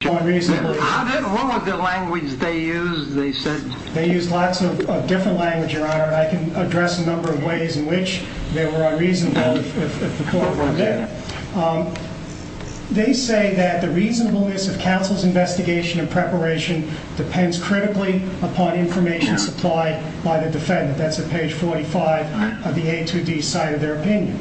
Page 45 of the A2D cited their opinion.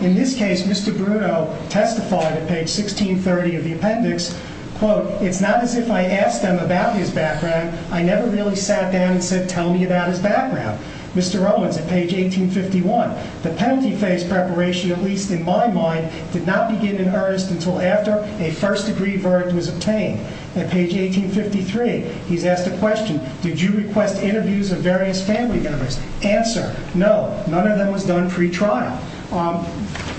In this case, Mr. Brudeau testified at page 1630 of the appendix quote, it's not as if I asked him about his background. I never really sat down and said, tell me about his background. Mr. Rowlands at page 1851, the penalty phase preparation, at least in my mind, did not begin in earnest until after a first degree verdict was obtained. At page 1853, he's asked a question. Did you request interviews of various family members? Answer. No, none of them was done pre-trial. Um,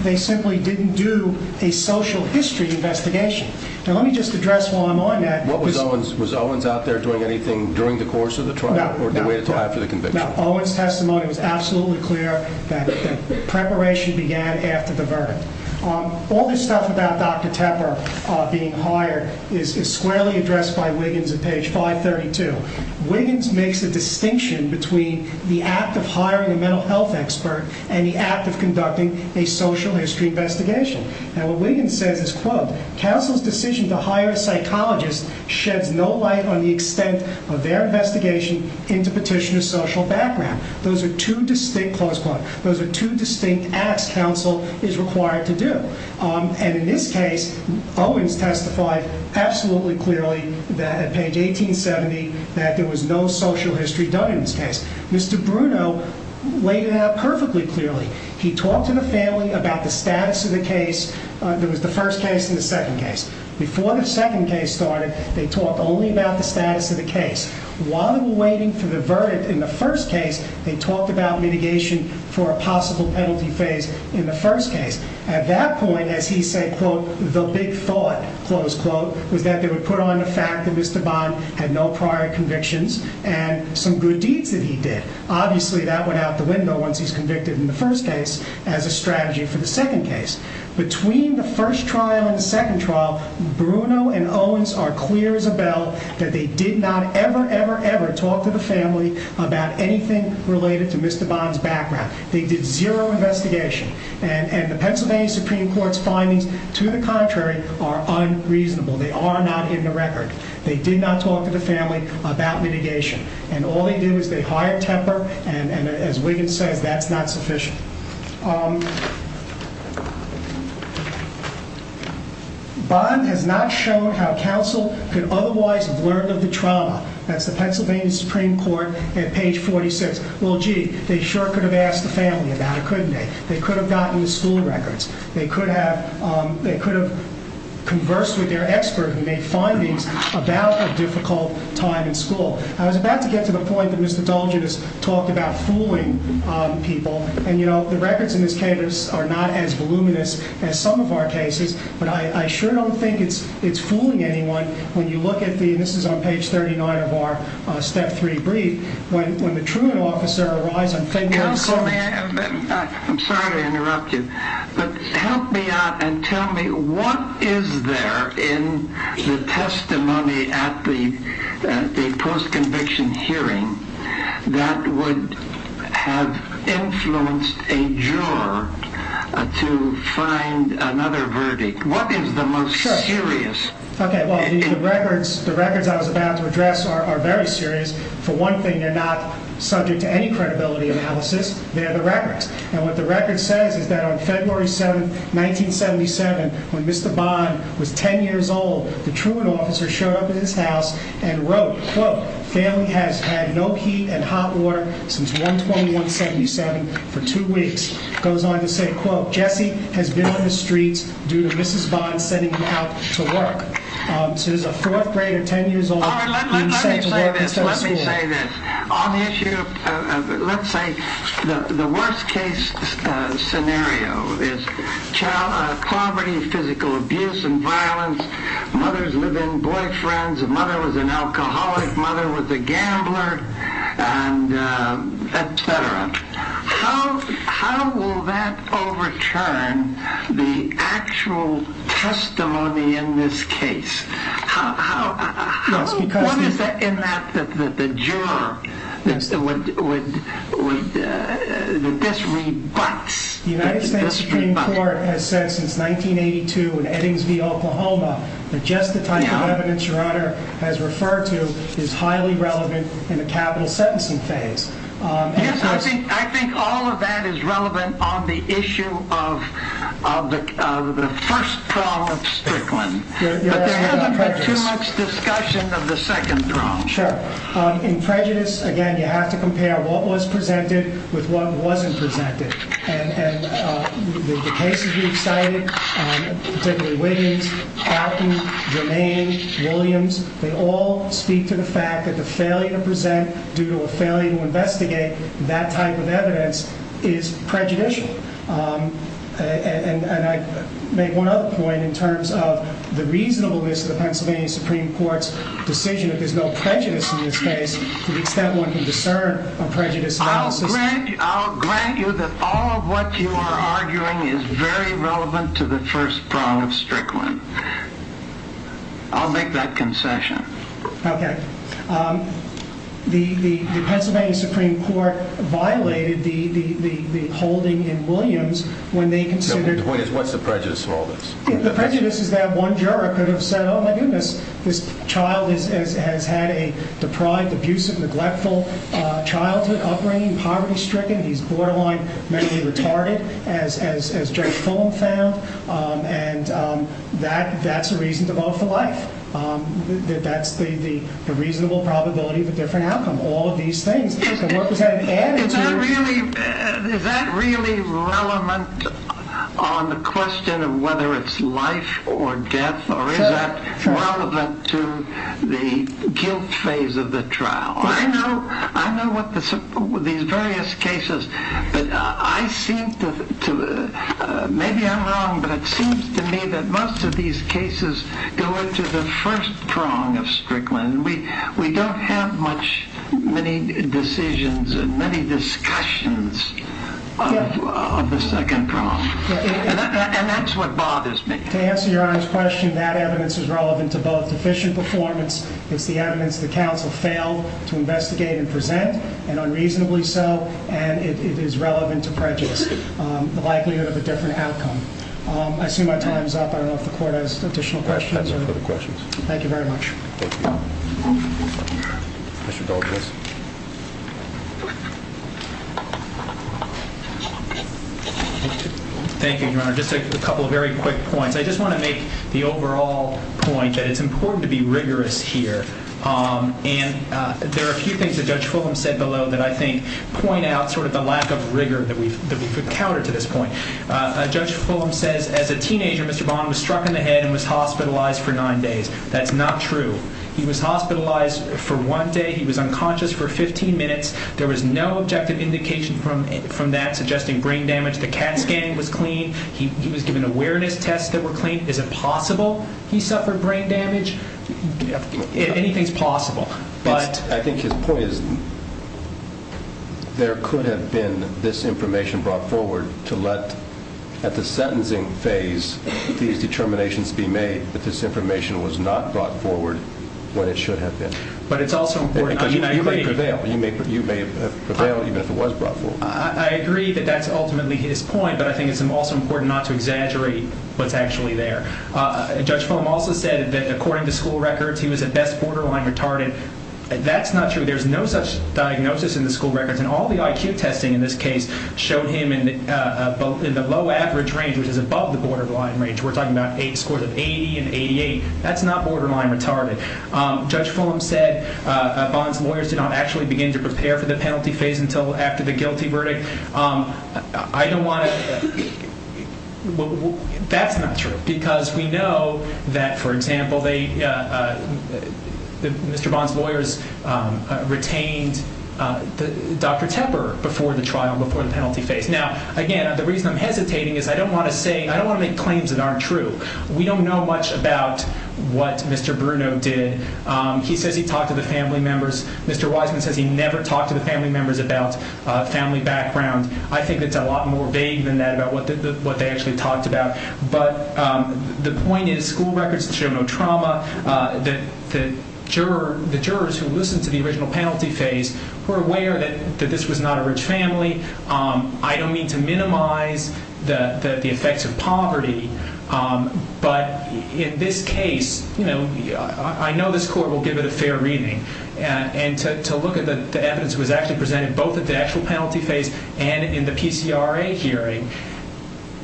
they simply didn't do a social history investigation. Now, let me just address while I'm on that. What was Owens? Was Owens out there doing anything during the course of the trial or the way to tie for the conviction? Owens testimony was absolutely clear that preparation began after the verdict. Um, all this stuff about Dr. Tepper, uh, being hired is squarely addressed by Wiggins makes a distinction between the act of hiring a mental health expert and the act of conducting a social history investigation. And what Wiggins says is quote, counsel's decision to hire a psychologist sheds no light on the extent of their investigation into petitioner's social background. Those are two distinct close quote. Those are two distinct acts counsel is required to do. Um, and in this case, Owens testified absolutely clearly that page 1870 that there was no social history done in this case. Mr. Bruno laid it out perfectly clearly. He talked to the family about the status of the case. There was the first case in the second case. Before the second case started, they talked only about the status of the case. While they were waiting for the verdict in the first case, they talked about mitigation for a possible penalty phase in the first case. At that point, as he said, quote, the big thought close quote was that they would put on the fact that Mr Bond had no prior convictions and some good deeds that he did. Obviously that went out the window once he's convicted in the first case as a strategy for the second case. Between the first trial and the second trial, Bruno and Owens are clear as a bell that they did not ever, ever, ever talk to the family about anything related to Mr Bond's background. They did zero investigation, and the Pennsylvania Supreme Court's findings to the contrary are unreasonable. They are not in the record. They did not talk to the family about mitigation, and all they did was they hired temper. And as Wiggins says, that's not what he says. Well, gee, they sure could have asked the family about it, couldn't they? They could have gotten the school records. They could have they could have conversed with their expert who made findings about a difficult time in school. I was about to get to the point that Mr Dolgen has talked about fooling people. And you know, the records in this case are not as voluminous as some of our cases, but I sure don't think it's it's fooling anyone when you look at the records. I mean, this is on page thirty nine of our step three brief. When the truant officer arises, I'm sorry to interrupt you, but help me out and tell me what is there in the testimony at the post-conviction hearing that would have influenced a juror to find another verdict? What is the most serious? OK, well, the records I was about to address are very serious. For one thing, they're not subject to any credibility analysis. They're the records. And what the record says is that on February 7th, 1977, when Mr. Bond was ten years old, the truant officer showed up at his house and wrote, quote, family has had no heat and hot water since one twenty one seventy seven for two weeks. Goes on to say, quote, Jesse has been on the streets due to Mrs. Bond sending him out to work. So he's a fourth grader, 10 years old. The United States Supreme Court has said since nineteen eighty two in Eddingsville, Oklahoma, that just the type of evidence your honor has referred to is highly relevant in the capital sentencing phase. I think all of that is relevant on the issue of the first trial of Strickland, but there hasn't been too much discussion of the second trial. Sure. In prejudice, again, you have to compare what was presented with what wasn't presented. And the cases we've cited, particularly Williams, Alton, Germaine, Williams, they all speak to the fact that the failure to present due to a failure to investigate that type of evidence is prejudicial. And I make one other point in terms of the reasonableness of the Pennsylvania Supreme Court's decision that there's no prejudice in this case to the extent one can discern a prejudice analysis. I'll grant you that all of what you are arguing is very relevant to the first trial of Strickland. I'll make that concession. Okay. The Pennsylvania Supreme Court violated the holding in Williams when they considered... The point is, what's the prejudice in all this? The prejudice is that one juror could have said, oh my goodness, this child has had a deprived, abusive, neglectful childhood, upbringing, poverty stricken, he's borderline mentally retarded, as Jake Fulham found, and that's a reason to vote for life. That's the reasonable probability of a different outcome. All of these things. Is that really relevant on the question of whether it's life or death, or is that relevant to the guilt phase of the trial? I know what these various cases... Maybe I'm wrong, but it seems to me that most of these cases go into the first prong of Strickland. We don't have many decisions and many discussions of the second prong. And that's what bothers me. To answer your Honor's question, that evidence is relevant to both deficient performance, it's the evidence that counsel failed to investigate and present, and unreasonably so, and it is relevant to prejudice. The likelihood of a different outcome. I assume my time is up. I don't know if the court has additional questions. Thank you very much. Thank you, Your Honor. Just a couple of very quick points. I just want to make the overall point that it's important to be rigorous here. And there are a few things that Judge Fulham said below that I think point out sort of the lack of rigor that we've encountered to this point. Judge Fulham says, as a teenager, Mr. Bond was struck in the head and was hospitalized for nine days. That's not true. He was hospitalized for one day. He was unconscious for 15 minutes. There was no objective indication from that suggesting brain damage. The CAT scanning was clean. He was given awareness tests that were clean. Is it possible he suffered brain damage? Anything's possible. I think his point is there could have been this information brought forward to let, at the sentencing phase, these determinations be made that this information was not brought forward when it should have been. But it's also important, I mean, I agree. Because you may prevail. You may have prevailed even if it was brought forward. I agree that that's ultimately his point. But I think it's also important not to exaggerate what's actually there. Judge Fulham also said that, according to school records, he was at best borderline retarded. That's not true. There's no such diagnosis in the school records. And all the IQ testing in this case showed him in the low average range, which is above the borderline range. We're talking about scores of 80 and 88. That's not borderline retarded. Judge Fulham said Bond's lawyers did not actually begin to prepare for the penalty phase until after the guilty verdict. I don't want to – that's not true. Because we know that, for example, Mr. Bond's lawyers retained Dr. Tepper before the trial, before the penalty phase. Now, again, the reason I'm hesitating is I don't want to make claims that aren't true. We don't know much about what Mr. Bruno did. He says he talked to the family members. Mr. Wiseman says he never talked to the family members about family background. I think it's a lot more vague than that, about what they actually talked about. But the point is, school records show no trauma. The jurors who listened to the original penalty phase were aware that this was not a rich family. I don't mean to minimize the effects of poverty, but in this case, I know this court will give it a fair reading. And to look at the evidence that was actually presented both at the actual penalty phase and in the PCRA hearing,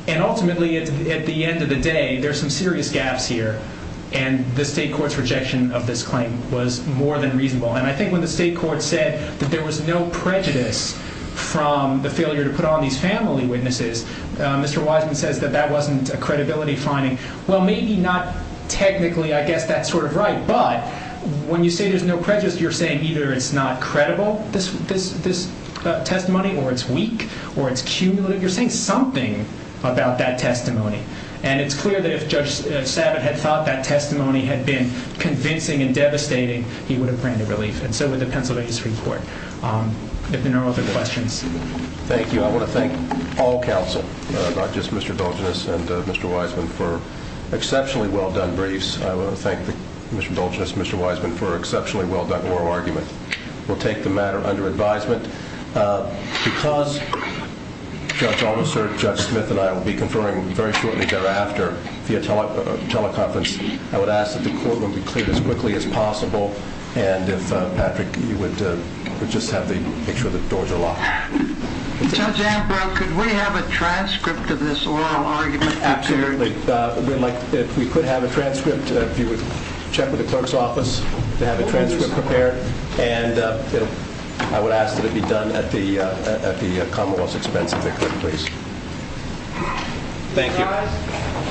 and ultimately at the end of the day, there's some serious gaps here. And the state court's rejection of this claim was more than reasonable. And I think when the state court said that there was no prejudice from the failure to put on these family witnesses, Mr. Wiseman says that that wasn't a credibility finding. Well, maybe not technically. I guess that's sort of right. But when you say there's no prejudice, you're saying either it's not credible, this testimony, or it's weak, or it's cumulative. You're saying something about that testimony. And it's clear that if Judge Sabat had thought that testimony had been convincing and devastating, he would have granted relief. And so would the Pennsylvania Supreme Court. If there are no other questions. Thank you. I want to thank all counsel, not just Mr. Dulgeness and Mr. Wiseman, for exceptionally well-done briefs. I want to thank Mr. Dulgeness and Mr. Wiseman for an exceptionally well-done oral argument. We'll take the matter under advisement because Judge Alderson, Judge Smith and I will be conferring very shortly thereafter via teleconference. I would ask that the courtroom be cleared as quickly as possible. And if Patrick, you would just have to make sure the doors are locked. Judge Ambrose, could we have a transcript of this oral argument prepared? Certainly. If we could have a transcript, if you would check with the clerk's office to have a transcript prepared. And I would ask that it be done at the Commonwealth's expense, if it could, please. Thank you.